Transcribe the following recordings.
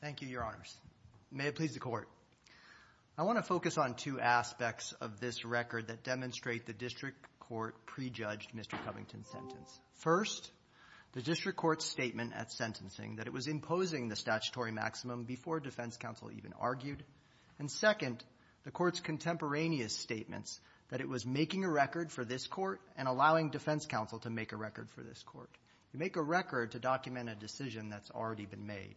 Thank you, Your Honors. May it please the Court. I want to focus on two aspects of this record that demonstrate the district court prejudged Mr. Covington's sentence. First, the district court's statement at sentencing that it was imposing the statutory maximum before defense counsel even argued. And second, the court's contemporaneous statements that it was making a record for this court and allowing defense counsel to make a record for this court. You make a record to document a decision that's already been made.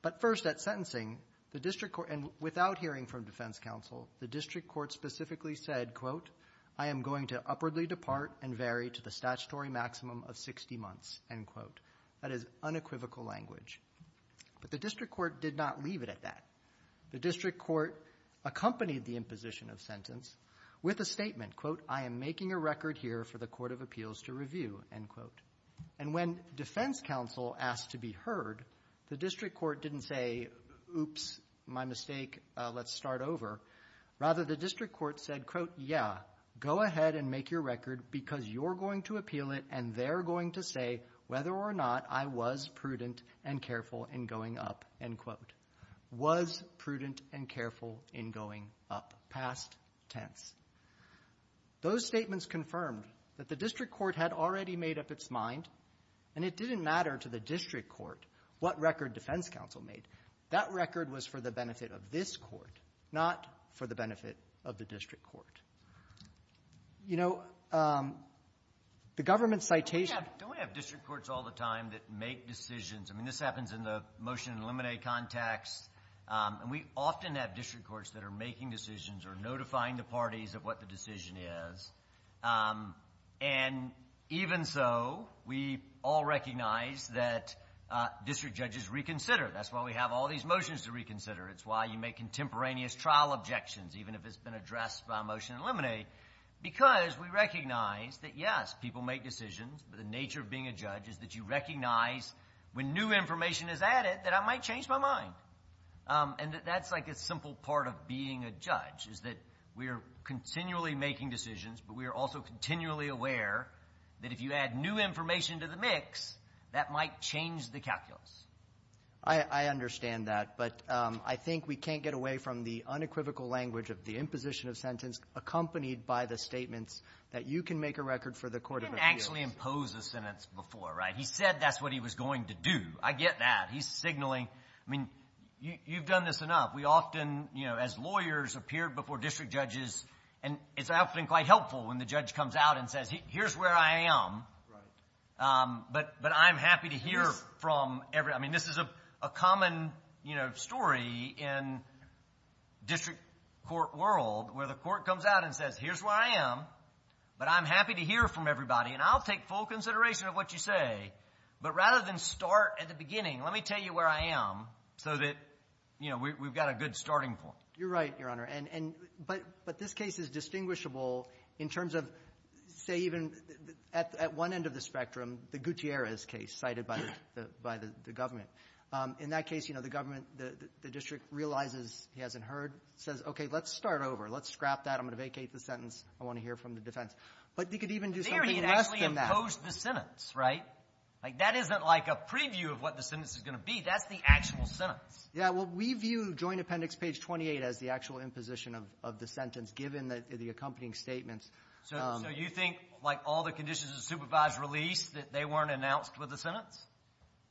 But first, at sentencing, the district court, and without hearing from defense counsel, the district court specifically said, quote, I am going to upwardly depart and vary to the statutory maximum of 60 months, end quote. That is unequivocal language. But the district court did not leave it at that. The district court accompanied the imposition of sentence with a statement, quote, I am making a record here for the Court of Appeals to review, end quote. And when defense counsel asked to be heard, the district court didn't say, oops, my mistake, let's start over. Rather, the district court said, quote, yeah, go ahead and make your record because you're going to appeal it and they're going to say whether or not I was prudent and careful in going up, end quote. Was prudent and careful in its mind. And it didn't matter to the district court what record defense counsel made. That record was for the benefit of this court, not for the benefit of the district court. You know, the government's citation of the district courts all the time that make decisions and this happens in the motion to eliminate contacts, and we often have district courts that are making decisions or notifying the parties of what the decision is. And even so, we all recognize that district judges reconsider. That's why we have all these motions to reconsider. It's why you make contemporaneous trial objections, even if it's been addressed by a motion to eliminate, because we recognize that, yes, people make decisions, but the nature of being a judge is that you recognize when new information is added that I might is that we are continually making decisions, but we are also continually aware that if you add new information to the mix, that might change the calculus. I understand that, but I think we can't get away from the unequivocal language of the imposition of sentence accompanied by the statements that you can make a record for the court of appeals. He didn't actually impose a sentence before, right? He said that's what he was going to before district judges, and it's often quite helpful when the judge comes out and says, here's where I am, but I'm happy to hear from everybody. I mean, this is a common story in district court world where the court comes out and says, here's where I am, but I'm happy to hear from everybody, and I'll take full consideration of what you say, but rather than start at the beginning, let me tell you where I am so that we've got a good starting point. You're right, Your Honor. And but this case is distinguishable in terms of, say, even at one end of the spectrum, the Gutierrez case cited by the government. In that case, you know, the government, the district realizes he hasn't heard, says, okay, let's start over. Let's scrap that. I'm going to vacate the sentence. I want to hear from the defense. But he could even do something less than that. They already actually imposed the sentence, right? Like, that isn't like a preview of what the sentence is going to be. That's the actual sentence. Yeah. Well, we view Joint Appendix, page 28, as the actual imposition of the sentence, given the accompanying statements. So you think, like all the conditions of supervised release, that they weren't announced with the sentence?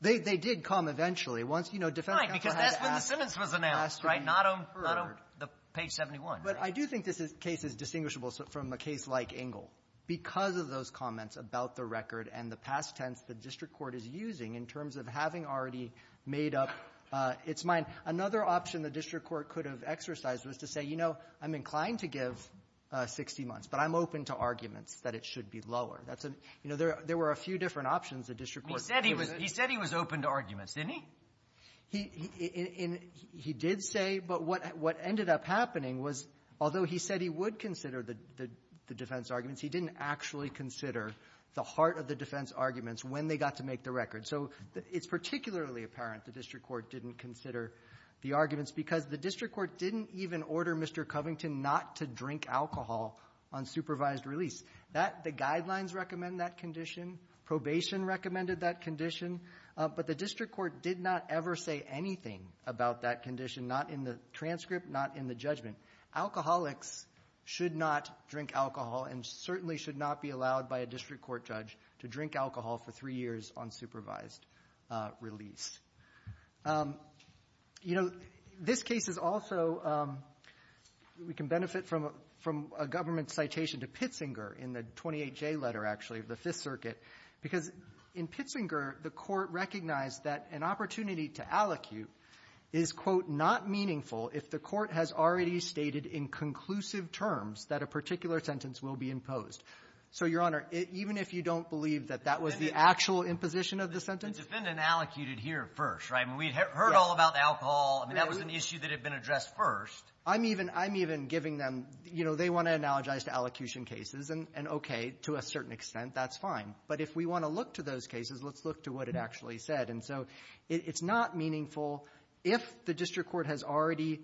They did come eventually. Once, you know, defense counsel had to ask them. Right, because that's when the sentence was announced, right? Not on the page 71. But I do think this case is distinguishable from a case like Engle because of those comments about the record and the past tense the district court is using in terms of having already made up its mind. Another option the district court could have exercised was to say, you know, I'm inclined to give 60 months, but I'm open to arguments that it should be lower. That's a — you know, there were a few different options the district court could have used. He said he was open to arguments, didn't he? He did say, but what ended up happening was, although he said he would consider the defense arguments, he didn't actually consider the heart of the defense arguments when they got to make the record. So it's particularly apparent the district court didn't consider the arguments because the district court didn't even order Mr. Covington not to drink alcohol on supervised release. That — the guidelines recommend that condition. Probation recommended that condition. But the district court did not ever say anything about that condition, not in the transcript, not in the judgment. Alcoholics should not drink alcohol and certainly should not be allowed by a district court judge to drink alcohol for three years on supervised release. You know, this case is also — we can benefit from a government citation to Pitzinger in the 28J letter, actually, of the Fifth Circuit, because in Pitzinger, the Court recognized that an opportunity to allocute is, quote, not meaningful if the Court has already stated in conclusive terms that a particular sentence will be imposed. So, Your Honor, even if you don't believe that that was the actual imposition of the sentence — It's been in allocuted here first, right? I mean, we heard all about alcohol. I mean, that was an issue that had been addressed first. I'm even — I'm even giving them — you know, they want to analogize to allocution cases, and okay, to a certain extent, that's fine. But if we want to look to those cases, let's look to what it actually said. And so it's not meaningful if the district court has already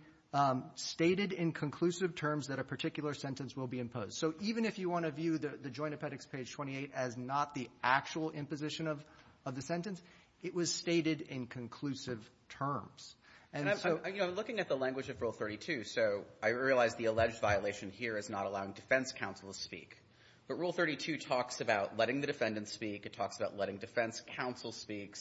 stated in conclusive terms that a particular sentence will be imposed. So even if you want to view the Joint Appendix, page 28, as not the actual imposition of the sentence, it was stated in conclusive terms. And so — And I'm — you know, I'm looking at the language of Rule 32, so I realize the alleged violation here is not allowing defense counsel to speak. But Rule 32 talks about letting the defendant speak. It talks about letting defense counsel speak.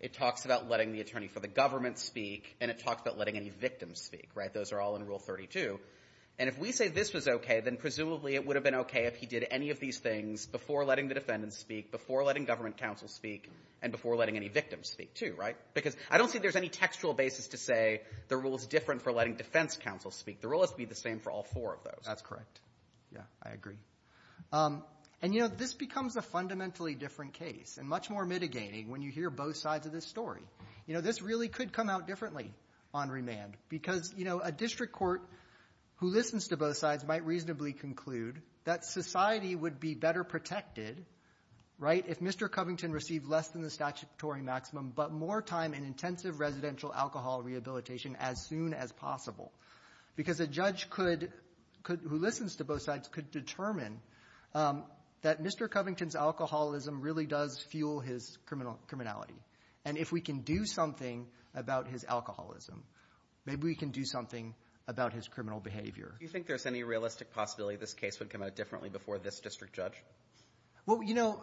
It talks about letting the attorney for the government speak. And it talks about letting any victim speak, right? Those are all in Rule 32. And if we say this was okay, then presumably it would have been okay if he did any of these things before letting the defendant speak, before letting government counsel speak, and before letting any victim speak, too, right? Because I don't see there's any textual basis to say the rule is different for letting defense counsel speak. The rule has to be the same for all four of those. That's correct. Yeah, I agree. And, you know, this becomes a fundamentally different case and much more mitigating when you hear both sides of this story. You know, this really could come out differently on remand because, you know, a district court who listens to both sides might reasonably conclude that society would be better protected, right, if Mr. Covington received less than the statutory maximum but more time in intensive residential alcohol rehabilitation as soon as possible. Because a judge could — who listens to both sides could determine that Mr. Covington's alcoholism really does fuel his criminality. And if we can do something about his criminal behavior. Do you think there's any realistic possibility this case would come out differently before this district judge? Well, you know,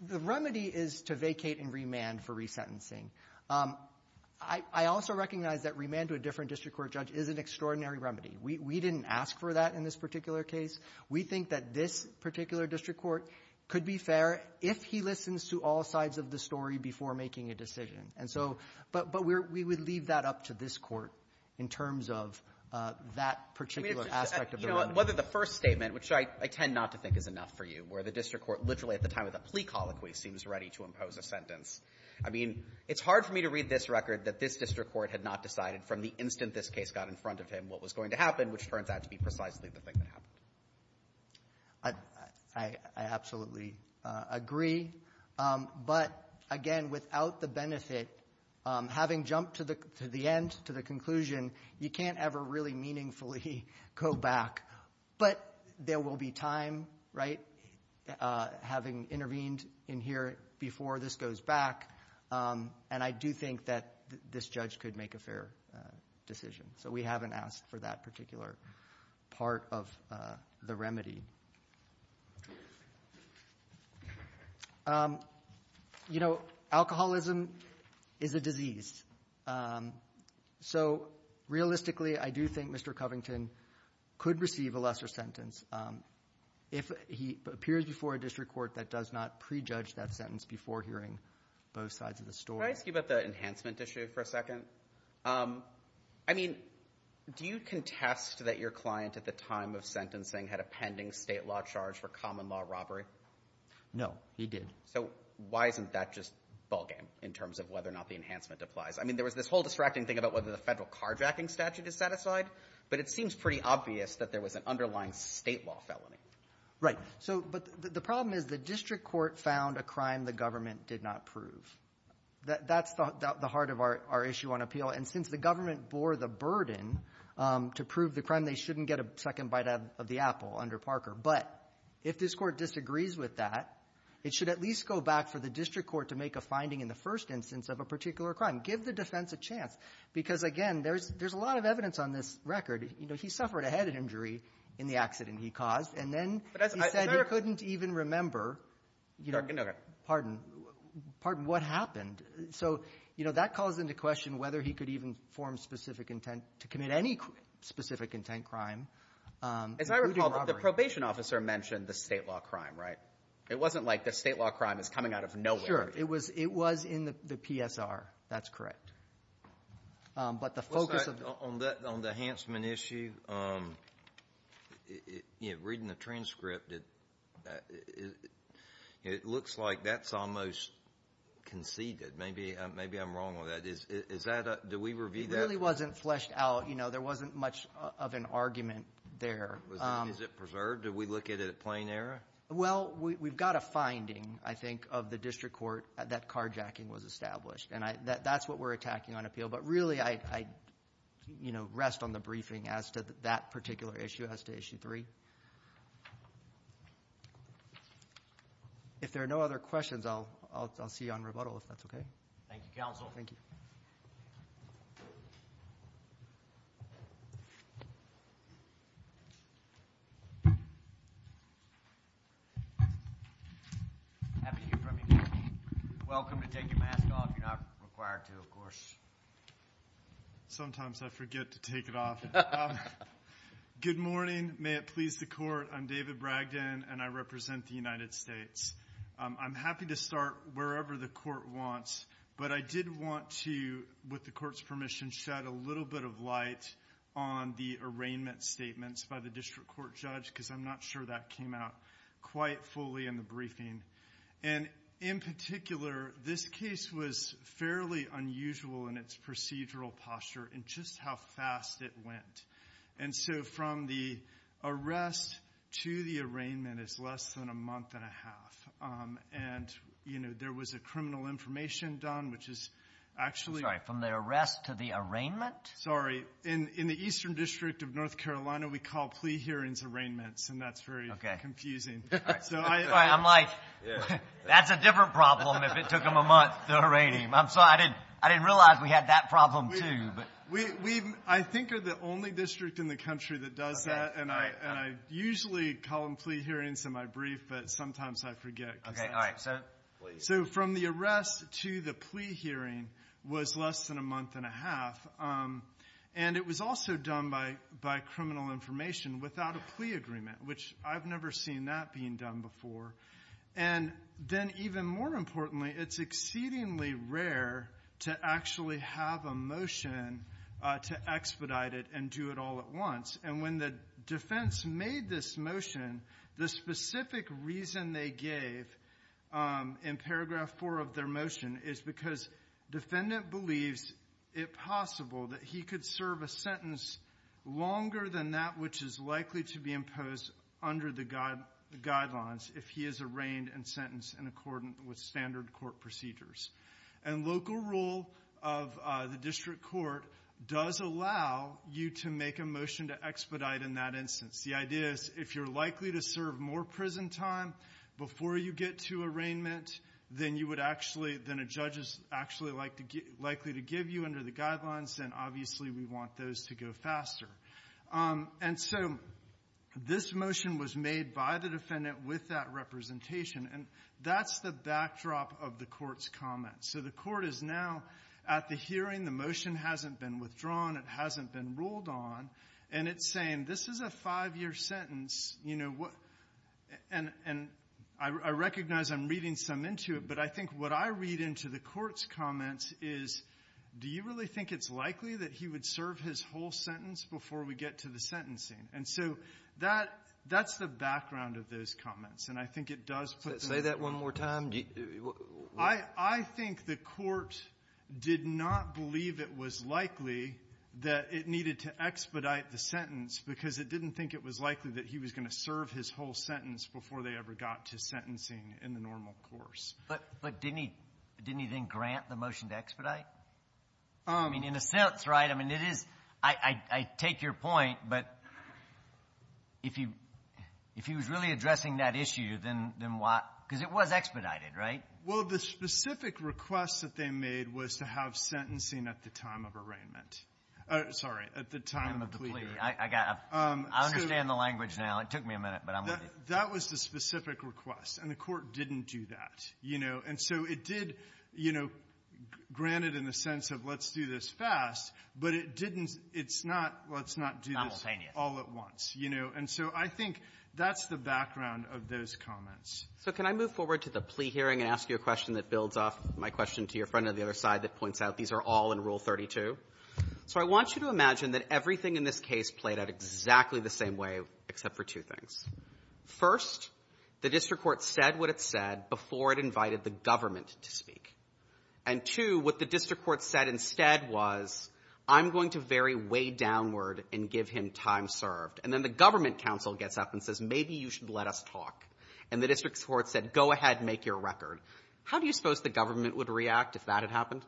the remedy is to vacate in remand for resentencing. I also recognize that remand to a different district court judge is an extraordinary remedy. We didn't ask for that in this particular case. We think that this particular district court could be fair if he listens to all sides of the story before making a decision. And I don't think there's any realistic possibility in terms of that particular aspect of the remedy. You know, whether the first statement, which I tend not to think is enough for you, where the district court literally at the time of the plea colloquy seems ready to impose a sentence. I mean, it's hard for me to read this record that this district court had not decided from the instant this case got in front of him what was going to happen, which turns out to be precisely the thing that happened. I absolutely agree. But again, without the benefit, having jumped to the end, to the end, you can't ever really meaningfully go back. But there will be time, right, having intervened in here before this goes back. And I do think that this judge could make a fair decision. So we haven't asked for that particular part of the remedy. You know, alcoholism is a disease. So realistically, I do think Mr. Covington could receive a lesser sentence if he appears before a district court that does not prejudge that sentence before hearing both sides of the story. Can I ask you about the enhancement issue for a second? I mean, do you contest that your client at the time of sentencing had a pending state law charge for common law robbery? No, he did. So why isn't that just ballgame in terms of whether or not the enhancement applies? I mean, there was this whole distracting thing about whether the federal carjacking statute is satisfied, but it seems pretty obvious that there was an underlying state law felony. Right. So but the problem is the district court found a crime the government did not prove. That's the heart of our issue on appeal. And since the government bore the burden to prove the crime, they shouldn't get a second bite of the apple under Parker. But if this Court disagrees with that, it should at least go back for the district court to make a finding in the first instance of a particular crime. Give the defense a chance. Because, again, there's a lot of evidence on this record. You know, he suffered a head injury in the accident he caused, and then he said he couldn't even remember you know, pardon, pardon, what happened. So, you know, that calls into question whether he could even form specific intent to commit any specific intent crime. As I recall, the probation officer mentioned the state law crime, right? It wasn't like the state law crime is coming out of nowhere. Sure. It was it was in the PSR. That's correct. But the focus on that on the enhancement issue, you know, reading the transcript, it looks like that's almost conceded. Maybe maybe I'm wrong with that. Is that do we review that? It really wasn't fleshed out. You know, there wasn't much of an argument there. Is it preserved? Do we look at it at plain error? Well, we've got a finding, I think, of the district court that carjacking was established. And that's what we're attacking on appeal. But really, I, you know, rest on the briefing as to that particular issue, as to issue three. If there are no other questions, I'll see you on rebuttal, if that's OK. Thank you, counsel. Thank you. Happy to hear from you. Welcome to take your mask off. You're not required to, of course. Sometimes I forget to take it off. Good morning. May it please the court. I'm David Bragdon and I represent the United States. I'm happy to start wherever the court wants, but I did want to, with the court's permission, shed a little bit of light on the arraignment statements by the district court judge, because I'm not sure that came out quite fully in the briefing. And in particular, this case was fairly unusual in its procedural posture and just how fast it went. And so from the arrest to the arraignment is less than a month and a half. And, you know, there was a criminal information done, which is actually... Sorry, from the arrest to the arraignment? Sorry. In the Eastern District of North Carolina, we call plea hearings arraignments. And that's very confusing. So I'm like, that's a different problem if it took them a month to arraign him. I'm sorry, I didn't realize we had that problem, too. We, I think, are the only district in the country that does that. And I usually call them plea hearings in my brief, but sometimes I forget. OK, all right. So from the arrest to the plea hearing was less than a month and a half. And it was also done by criminal information without a plea agreement, which I've never seen that being done before. And then even more importantly, it's exceedingly rare to actually have a motion to expedite it and do it all at once. And when the defense made this motion, the specific reason they gave in paragraph four of their motion is because defendant believes it possible that he could serve a sentence in accordance with standard court procedures. And local rule of the district court does allow you to make a motion to expedite in that instance. The idea is if you're likely to serve more prison time before you get to arraignment, then you would actually, then a judge is actually likely to give you under the guidelines. And obviously we want those to go faster. And so this motion was made by the defendant with that representation. And that's the backdrop of the court's comments. So the court is now at the hearing. The motion hasn't been withdrawn. It hasn't been ruled on. And it's saying, this is a five-year sentence, you know, and I recognize I'm reading some into it, but I think what I read into the court's comments is, do you really think it's likely that he would serve his whole sentence before we get to the sentencing? And so that's the background of those comments. And I think it does put the ---- Say that one more time. I think the court did not believe it was likely that it needed to expedite the sentence, because it didn't think it was likely that he was going to serve his whole sentence before they ever got to sentencing in the normal course. But didn't he then grant the motion to expedite? I mean, in a sense, right? I mean, it is ---- I take your point, but if he was really addressing that issue, then why? Because it was expedited, right? Well, the specific request that they made was to have sentencing at the time of arraignment ---- sorry, at the time of the plea. I understand the language now. It took me a minute, but I'm going to ---- That was the specific request. And the court didn't do that, you know. And so it did, you know, grant it in the sense of let's do this fast, but it didn't ---- it's not, let's not do this all at once, you know. And so I think that's the background of those comments. So can I move forward to the plea hearing and ask you a question that builds off my question to your friend on the other side that points out these are all in Rule 32? So I want you to imagine that everything in this case played out exactly the same way, except for two things. First, the district court said what it said before it invited the government to speak. And, two, what the district court said instead was, I'm going to vary way downward and give him time served. And then the government counsel gets up and says, maybe you should let us talk. And the district court said, go ahead, make your record. How do you suppose the government would react if that had happened?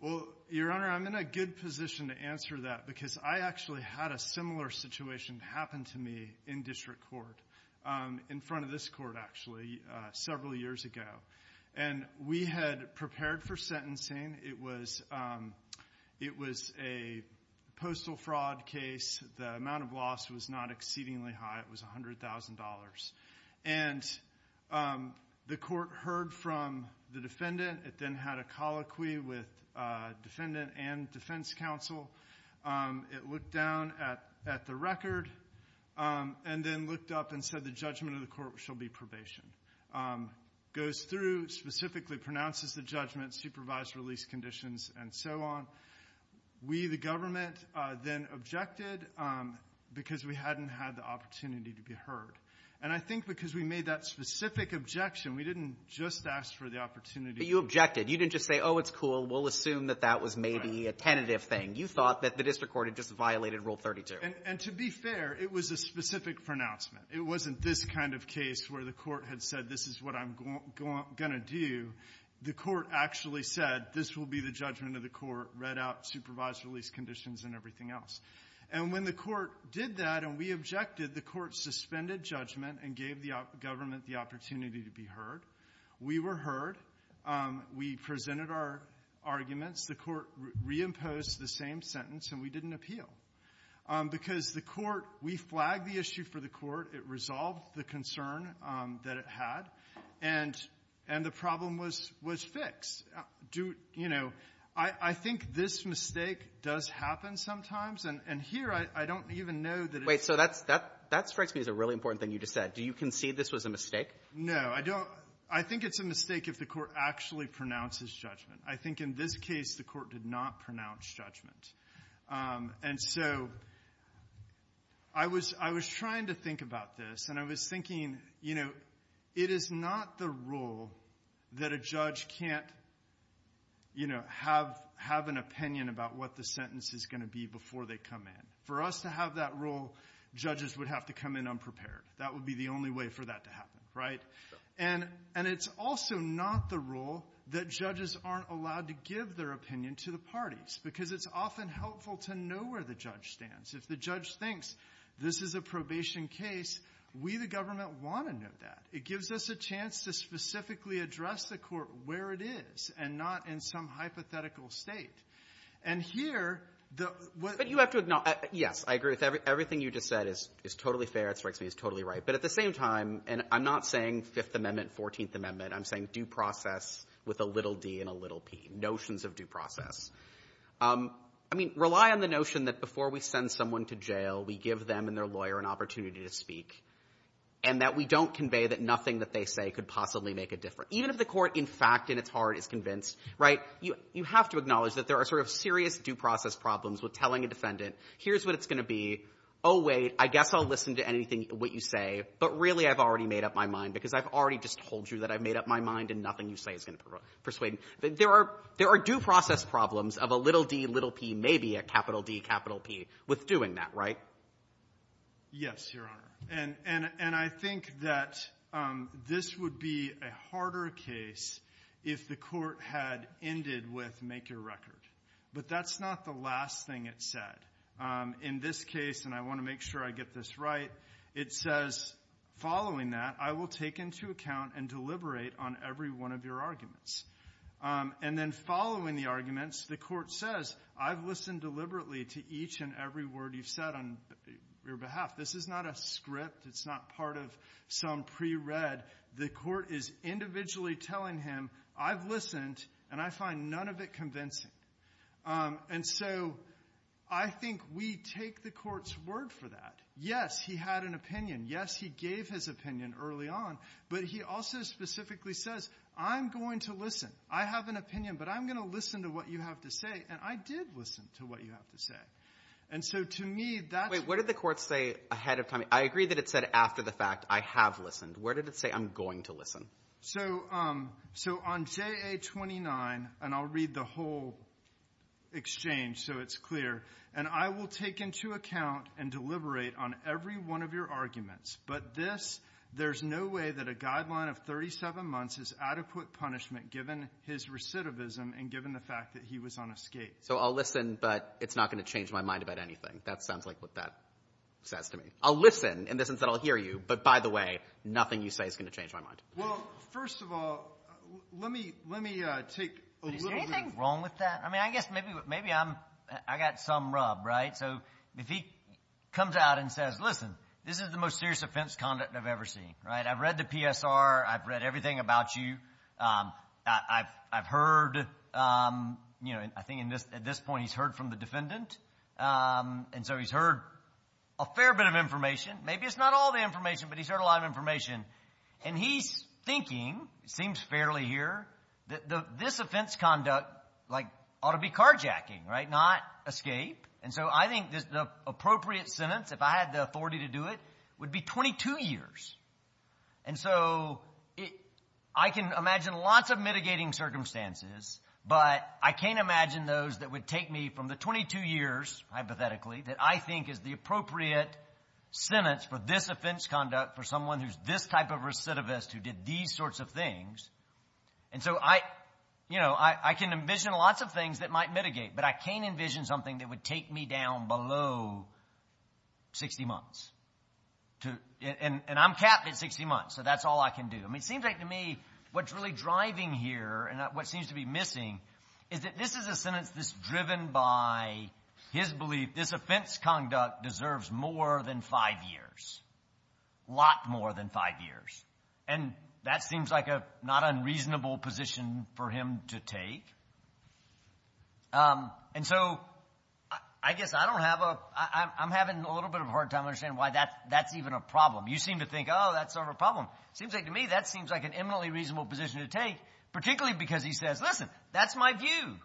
Well, Your Honor, I'm in a good position to answer that, because I actually had a similar situation happen to me in district court, in front of this court, actually, several years ago. And we had prepared for sentencing. It was a postal fraud case. The amount of loss was not exceedingly high. It was $100,000. And the court heard from the defendant. It then had a colloquy with defendant and defense counsel. It looked down at the record and then looked up and said, the judgment of the court shall be probation. Goes through, specifically pronounces the judgment, supervised release conditions, and so on. We, the government, then objected because we hadn't had the opportunity to be heard. And I think because we made that specific objection, we didn't just ask for the opportunity. But you objected. You didn't just say, oh, it's cool. We'll assume that that was maybe a tentative thing. You thought that the district court had just violated Rule 32. And to be fair, it was a specific pronouncement. It wasn't this kind of case where the court had said, this is what I'm going to do. The court actually said, this will be the judgment of the court, read out, supervised release conditions, and everything else. And when the court did that and we objected, the court suspended judgment and gave the government the opportunity to be heard. We were heard. We presented our arguments. The court reimposed the same sentence, and we didn't appeal. Because the court, we flagged the issue for the court. It resolved the concern that it had. And the problem was fixed. Do you know, I think this mistake does happen sometimes. And here, I don't even know that it's the case. Wait. So that strikes me as a really important thing you just said. Do you concede this was a mistake? No. I don't. I think it's a mistake if the court actually pronounces judgment. I think in this case, the court did not pronounce judgment. And so I was trying to think about this. And I was thinking, it is not the rule that a judge can't have an opinion about what the sentence is going to be before they come in. For us to have that rule, judges would have to come in unprepared. That would be the only way for that to happen, right? And it's also not the rule that judges aren't allowed to give their opinion to the parties. Because it's often helpful to know where the judge stands. If the judge thinks this is a probation case, we, the government, want to know that. It gives us a chance to specifically address the court where it is and not in some hypothetical state. And here, what you have to acknowledge, yes, I agree with everything you just said is totally fair. It strikes me as totally right. But at the same time, and I'm not saying Fifth Amendment, Fourteenth Amendment. I'm saying due process with a little d and a little p. Notions of due process. I mean, rely on the notion that before we send someone to jail, we give them and their lawyer an opportunity to speak. And that we don't convey that nothing that they say could possibly make a difference. Even if the court, in fact, in its heart is convinced, right, you have to acknowledge that there are sort of serious due process problems with telling a defendant, here's what it's going to be. Oh, wait, I guess I'll listen to anything, what you say. But really, I've already made up my mind. Because I've already just told you that I've made up my mind. And nothing you say is going to persuade me. There are due process problems of a little d, little p, maybe a capital D, capital P with doing that, right? Yes, Your Honor. And I think that this would be a harder case if the court had ended with make your record. But that's not the last thing it said. In this case, and I want to make sure I get this right, it says, following that, I will take into account and deliberate on every one of your arguments. And then following the arguments, the court says, I've listened deliberately to each and every word you've said on your behalf. This is not a script. It's not part of some pre-read. The court is individually telling him, I've listened. And I find none of it convincing. And so I think we take the court's word for that. Yes, he had an opinion. Yes, he gave his opinion early on. But he also specifically says, I'm going to listen. I have an opinion. But I'm going to listen to what you have to say. And I did listen to what you have to say. And so to me, that's Wait, what did the court say ahead of time? I agree that it said after the fact, I have listened. Where did it say, I'm going to listen? So on JA-29, and I'll read the whole exchange so it's clear. And I will take into account and deliberate on every one of your arguments. But this, there's no way that a guideline of 37 months is adequate punishment, given his recidivism and given the fact that he was on a skate. So I'll listen, but it's not going to change my mind about anything. That sounds like what that says to me. I'll listen in the sense that I'll hear you. But by the way, nothing you say is going to change my mind. Well, first of all, let me take a little bit of- Is there anything wrong with that? I mean, I guess maybe I got some rub, right? So if he comes out and says, listen, this is the most serious offense conduct I've ever seen, right? I've read the PSR. I've read everything about you. I've heard, I think at this point he's heard from the defendant. And so he's heard a fair bit of information. Maybe it's not all the information, but he's heard a lot of information. And he's thinking, it seems fairly here, that this offense conduct ought to be carjacking, right, not escape. And so I think the appropriate sentence, if I had the authority to do it, would be 22 years. And so I can imagine lots of mitigating circumstances, but I can't imagine those that would take me from the 22 years, hypothetically, that I think is the appropriate sentence for this offense conduct for someone who's this type of recidivist, who did these sorts of things. And so I can envision lots of things that might mitigate, but I can't envision something that would take me down below 60 months. And I'm capped at 60 months, so that's all I can do. I mean, it seems like to me what's really driving here and what seems to be missing is that this is a sentence that's driven by his belief, this offense conduct deserves more than five years, lot more than five years. And that seems like a not unreasonable position for him to take. And so I guess I don't have a, I'm having a little bit of a hard time understanding why that's even a problem. You seem to think, that's not a problem. Seems like to me, that seems like an eminently reasonable position to take, particularly because he says, listen, that's my view.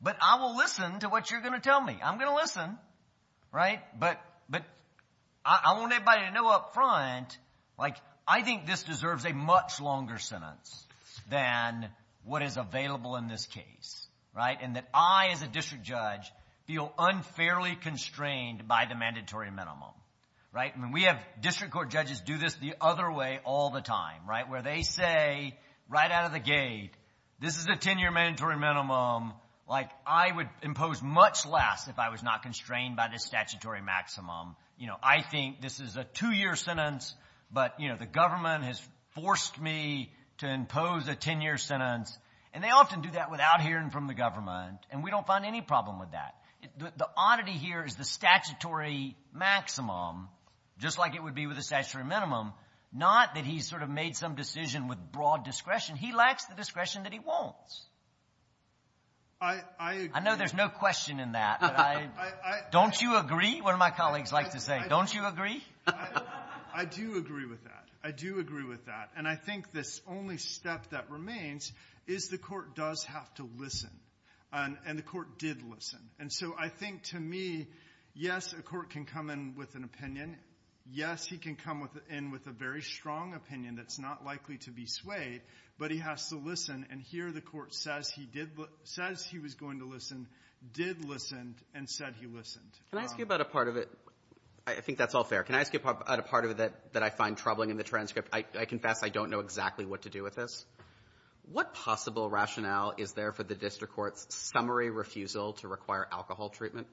But I will listen to what you're going to tell me. I'm going to listen, right? But I want everybody to know up front, like I think this deserves a much longer sentence than what is available in this case, right? And that I, as a district judge, feel unfairly constrained by the mandatory minimum, right? And we have district court judges do this the other way all the time, right? Where they say, right out of the gate, this is a ten year mandatory minimum. Like, I would impose much less if I was not constrained by this statutory maximum. You know, I think this is a two year sentence. But, you know, the government has forced me to impose a ten year sentence. And they often do that without hearing from the government. And we don't find any problem with that. The oddity here is the statutory maximum, just like it would be with a statutory minimum. Not that he's sort of made some decision with broad discretion. He lacks the discretion that he wants. I know there's no question in that, but don't you agree? One of my colleagues likes to say, don't you agree? I do agree with that. I do agree with that. And I think this only step that remains is the court does have to listen. And the court did listen. Yes, he can come in with a very strong opinion that's not likely to be swayed. But he has to listen. And here the court says he was going to listen, did listen, and said he listened. Can I ask you about a part of it? I think that's all fair. Can I ask you about a part of it that I find troubling in the transcript? I confess I don't know exactly what to do with this. What possible rationale is there for the district court's summary refusal to require alcohol treatment?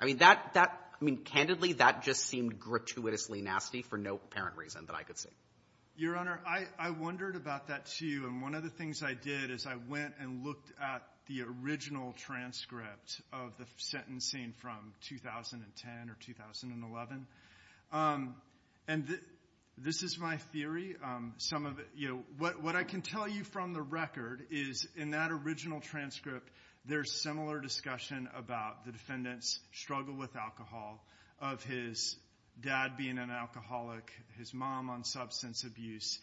I mean, that, that, I mean, candidly, that just seemed gratuitously nasty for no apparent reason that I could see. Your Honor, I, I wondered about that too. And one of the things I did is I went and looked at the original transcript of the sentencing from 2010 or 2011. And this is my theory. Some of it, you know, what, what I can tell you from the record is in that original transcript, there's similar discussion about the defendant's struggle with alcohol, of his dad being an alcoholic, his mom on substance abuse.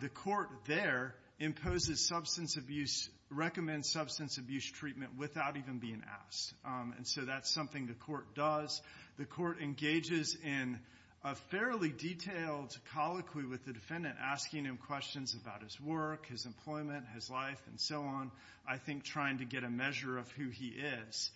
The court there imposes substance abuse, recommends substance abuse treatment without even being asked. And so that's something the court does. The court engages in a fairly detailed colloquy with the defendant, asking him questions about his work, his employment, his life, and so on. I think trying to get a measure of who he is.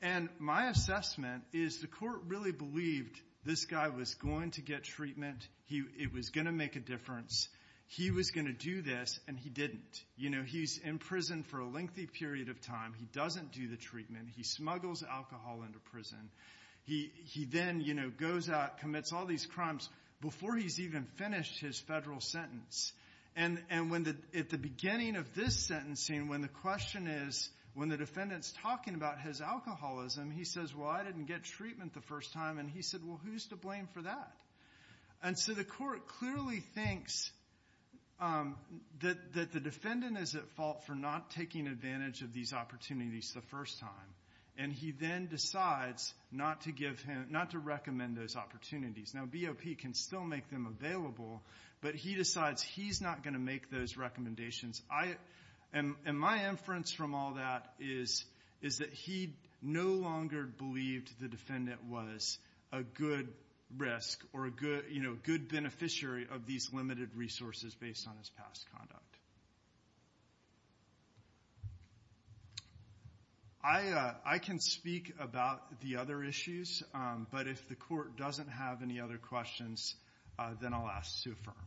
And my assessment is the court really believed this guy was going to get treatment. He, it was going to make a difference. He was going to do this, and he didn't. You know, he's in prison for a lengthy period of time. He doesn't do the treatment. He smuggles alcohol into prison. He, he then, you know, goes out, commits all these crimes, before he's even finished his federal sentence. And, and when the, at the beginning of this sentencing, when the question is, when the defendant's talking about his alcoholism, he says, well, I didn't get treatment the first time. And he said, well, who's to blame for that? And so the court clearly thinks that, that the defendant is at fault for not taking advantage of these opportunities the first time. And he then decides not to give him, not to recommend those opportunities. Now, BOP can still make them available, but he decides he's not going to make those recommendations. I, and, and my inference from all that is, is that he no longer believed the defendant was a good risk, or a good, you know, good beneficiary of these limited resources based on his past conduct. I I can speak about the other issues. But if the court doesn't have any other questions, then I'll ask Sue Furman.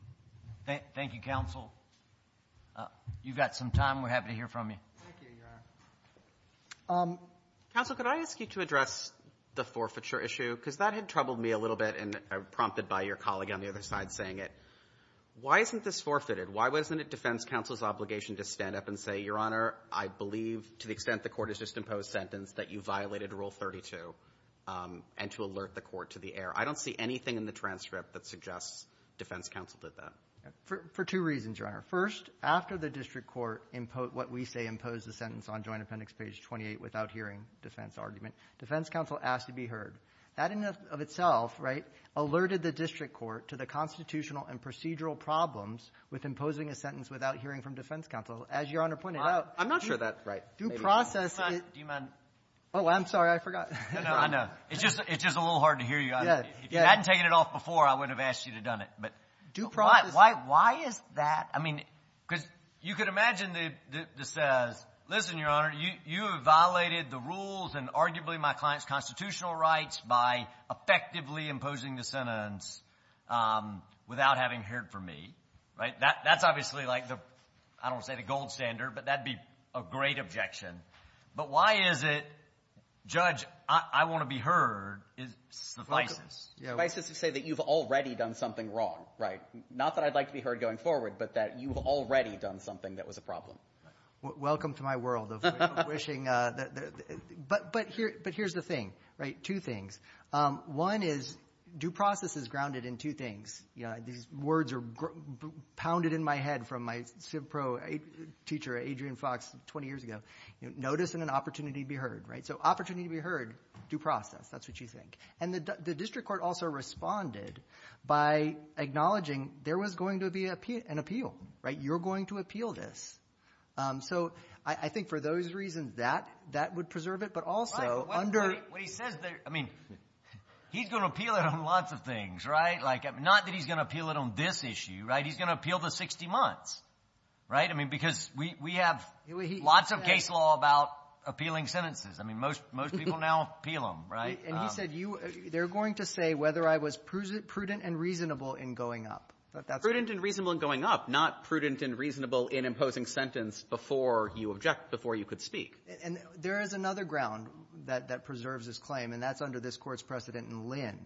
Thank, thank you, counsel. You've got some time. We're happy to hear from you. Thank you, your honor. Counsel, could I ask you to address the forfeiture issue? Because that had troubled me a little bit, and I was prompted by your colleague on the other side saying it. Why isn't this forfeited? Why wasn't it defense counsel's obligation to stand up and say, your honor, I believe to the extent the court has just imposed sentence that you violated Rule 32, and to alert the court to the error. I don't see anything in the transcript that suggests defense counsel did that. For, for two reasons, your honor. First, after the district court imposed what we say imposed the sentence on joint appendix page 28 without hearing defense argument, defense counsel asked to be heard. That in of itself, right, alerted the district court to the constitutional and procedural problems with imposing a sentence without hearing from defense counsel. As your honor pointed out. I'm not sure that, right. Due process is. Do you mind? Oh, I'm sorry. I forgot. No, no. I know. It's just, it's just a little hard to hear you. Yeah. Yeah. If you hadn't taken it off before, I wouldn't have asked you to have done it. But. Due process. Why, why, why is that? I mean, because you could imagine the, the, the says, listen, your honor, you, you have violated the rules and arguably my client's constitutional rights by effectively imposing the sentence without having heard from me, right? That, that's obviously like the, I don't want to say the gold standard, but that'd be a great objection. But why is it judge, I want to be heard is suffices. Suffices to say that you've already done something wrong. Right? Not that I'd like to be heard going forward, but that you've already done something that was a problem. Welcome to my world of wishing. But, but here, but here's the thing, right? Two things. One is due process is grounded in two things. Yeah. These words are pounded in my head from my civ pro teacher, Adrian Fox, 20 years ago. Notice and an opportunity to be heard, right? So opportunity to be heard, due process. That's what you think. And the, the district court also responded by acknowledging there was going to be an appeal, right? You're going to appeal this. So I, I think for those reasons that, that would preserve it, but also under. What he says there, I mean, he's going to appeal it on lots of things, right? Like not that he's going to appeal it on this issue, right? He's going to appeal the 60 months, right? I mean, because we, we have lots of case law about appealing sentences. I mean, most, most people now appeal them, right? And he said you, they're going to say whether I was prudent and reasonable in going up. Prudent and reasonable in going up, not prudent and reasonable in imposing sentence before you object, before you could speak. And there is another ground that, that preserves this claim, and that's under this Court's precedent in Lynn.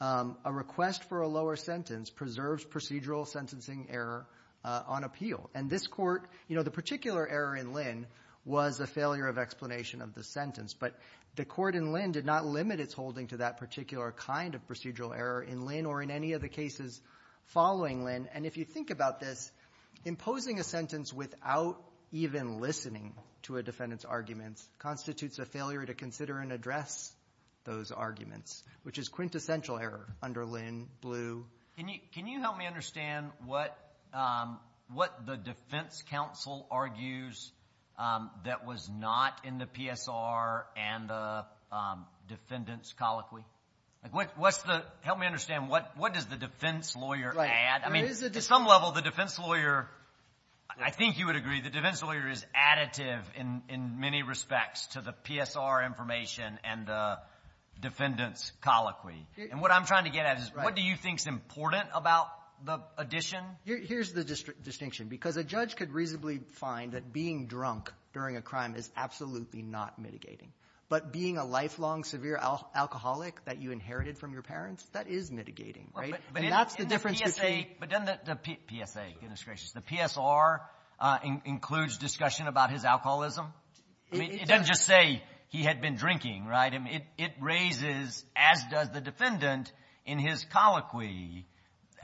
A request for a lower sentence preserves procedural sentencing error on appeal. And this Court, you know, the particular error in Lynn was a failure of explanation of the sentence. But the Court in Lynn did not limit its holding to that particular kind of procedural error in Lynn or in any of the cases following Lynn. And if you think about this, imposing a sentence without even listening to a defendant's arguments constitutes a failure to consider and address those arguments, which is quintessential error under Lynn, Blue. Can you, can you help me understand what, what the defense counsel argues that was not in the PSR and the defendant's colloquy? Like, what, what's the, help me understand, what, what does the defense lawyer add? Right. There is a defense lawyer. I mean, at some level, the defense lawyer, I think you would agree, the defense lawyer is additive in, in many respects to the PSR information and the defendant's colloquy. And what I'm trying to get at is what do you think is important about the addition? Here's the distinction. Because a judge could reasonably find that being drunk during a crime is absolutely not mitigating. But being a lifelong severe alcoholic that you inherited from your parents, that is mitigating, right? And that's the difference between the two. But in the PSA, but in the PSA, goodness gracious, the PSR includes discussion about his alcoholism? It doesn't just say he had been drinking, right? I mean, it, it raises, as does the defendant in his colloquy,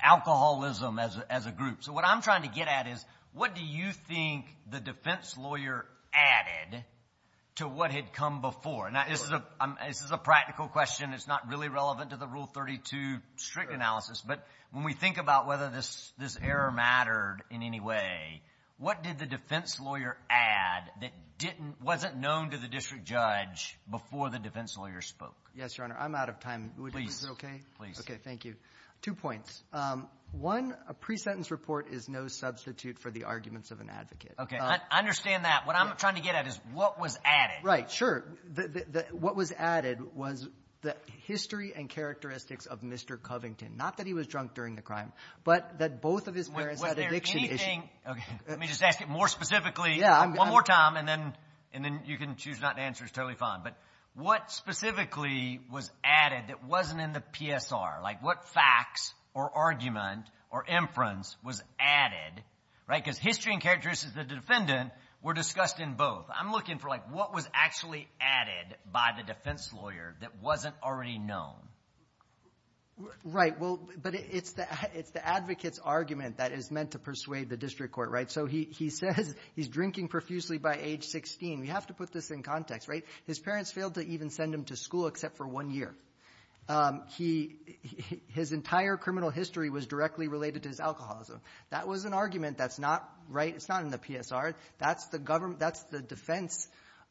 alcoholism as, as a group. So what I'm trying to get at is what do you think the defense lawyer added to what had come before? Now, this is a, this is a practical question. It's not really relevant to the Rule 32 strict analysis. But when we think about whether this, this error mattered in any way, what did the defense lawyer add that didn't, wasn't known to the district judge before the defense lawyer spoke? Yes, Your Honor. I'm out of time. Please. Okay. Please. Okay. Thank you. Two points. One, a pre-sentence report is no substitute for the arguments of an advocate. Okay. I understand that. What I'm trying to get at is what was added? Right. Sure. The, the, the, what was added was the history and characteristics of Mr. Covington. Not that he was drunk during the crime, but that both of his parents had addiction issues. Was there anything? Okay. Let me just ask it more specifically. Yeah. One more time and then, and then you can choose not to answer. It's totally fine. But what specifically was added that wasn't in the PSR? Like what facts or argument or inference was added? Right? Because history and characteristics of the defendant were discussed in both. I'm looking for like what was actually added by the defense lawyer that wasn't already known? Right. Well, but it's the, it's the advocate's argument that is meant to persuade the district court. Right? So he, he says he's drinking profusely by age 16. We have to put this in context, right? His parents failed to even send him to school except for one year. He, his entire criminal history was directly related to his alcoholism. That was an argument that's not right. It's not in the PSR. That's the government. That's the defense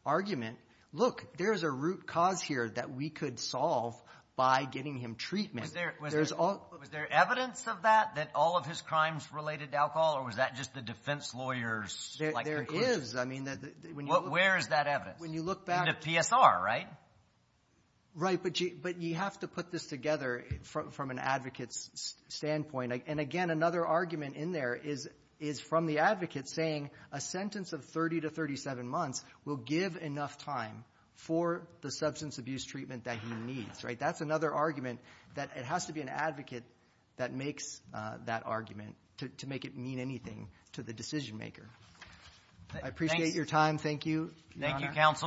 argument. Look, there's a root cause here that we could solve by getting him treatment. Was there, was there, was there evidence of that, that all of his crimes related to alcohol? Or was that just the defense lawyer's like conclusion? There is. I mean, when you look. Where is that evidence? When you look back. In the PSR, right? Right. But you, but you have to put this together from, from an advocate's standpoint. And again, another argument in there is, is from the advocate saying a sentence of 30 to 37 months will give enough time for the substance abuse treatment that he needs. Right? That's another argument that it has to be an advocate that makes that argument to make it mean anything to the decision maker. I appreciate your time. Thank you. Thank you, counsel.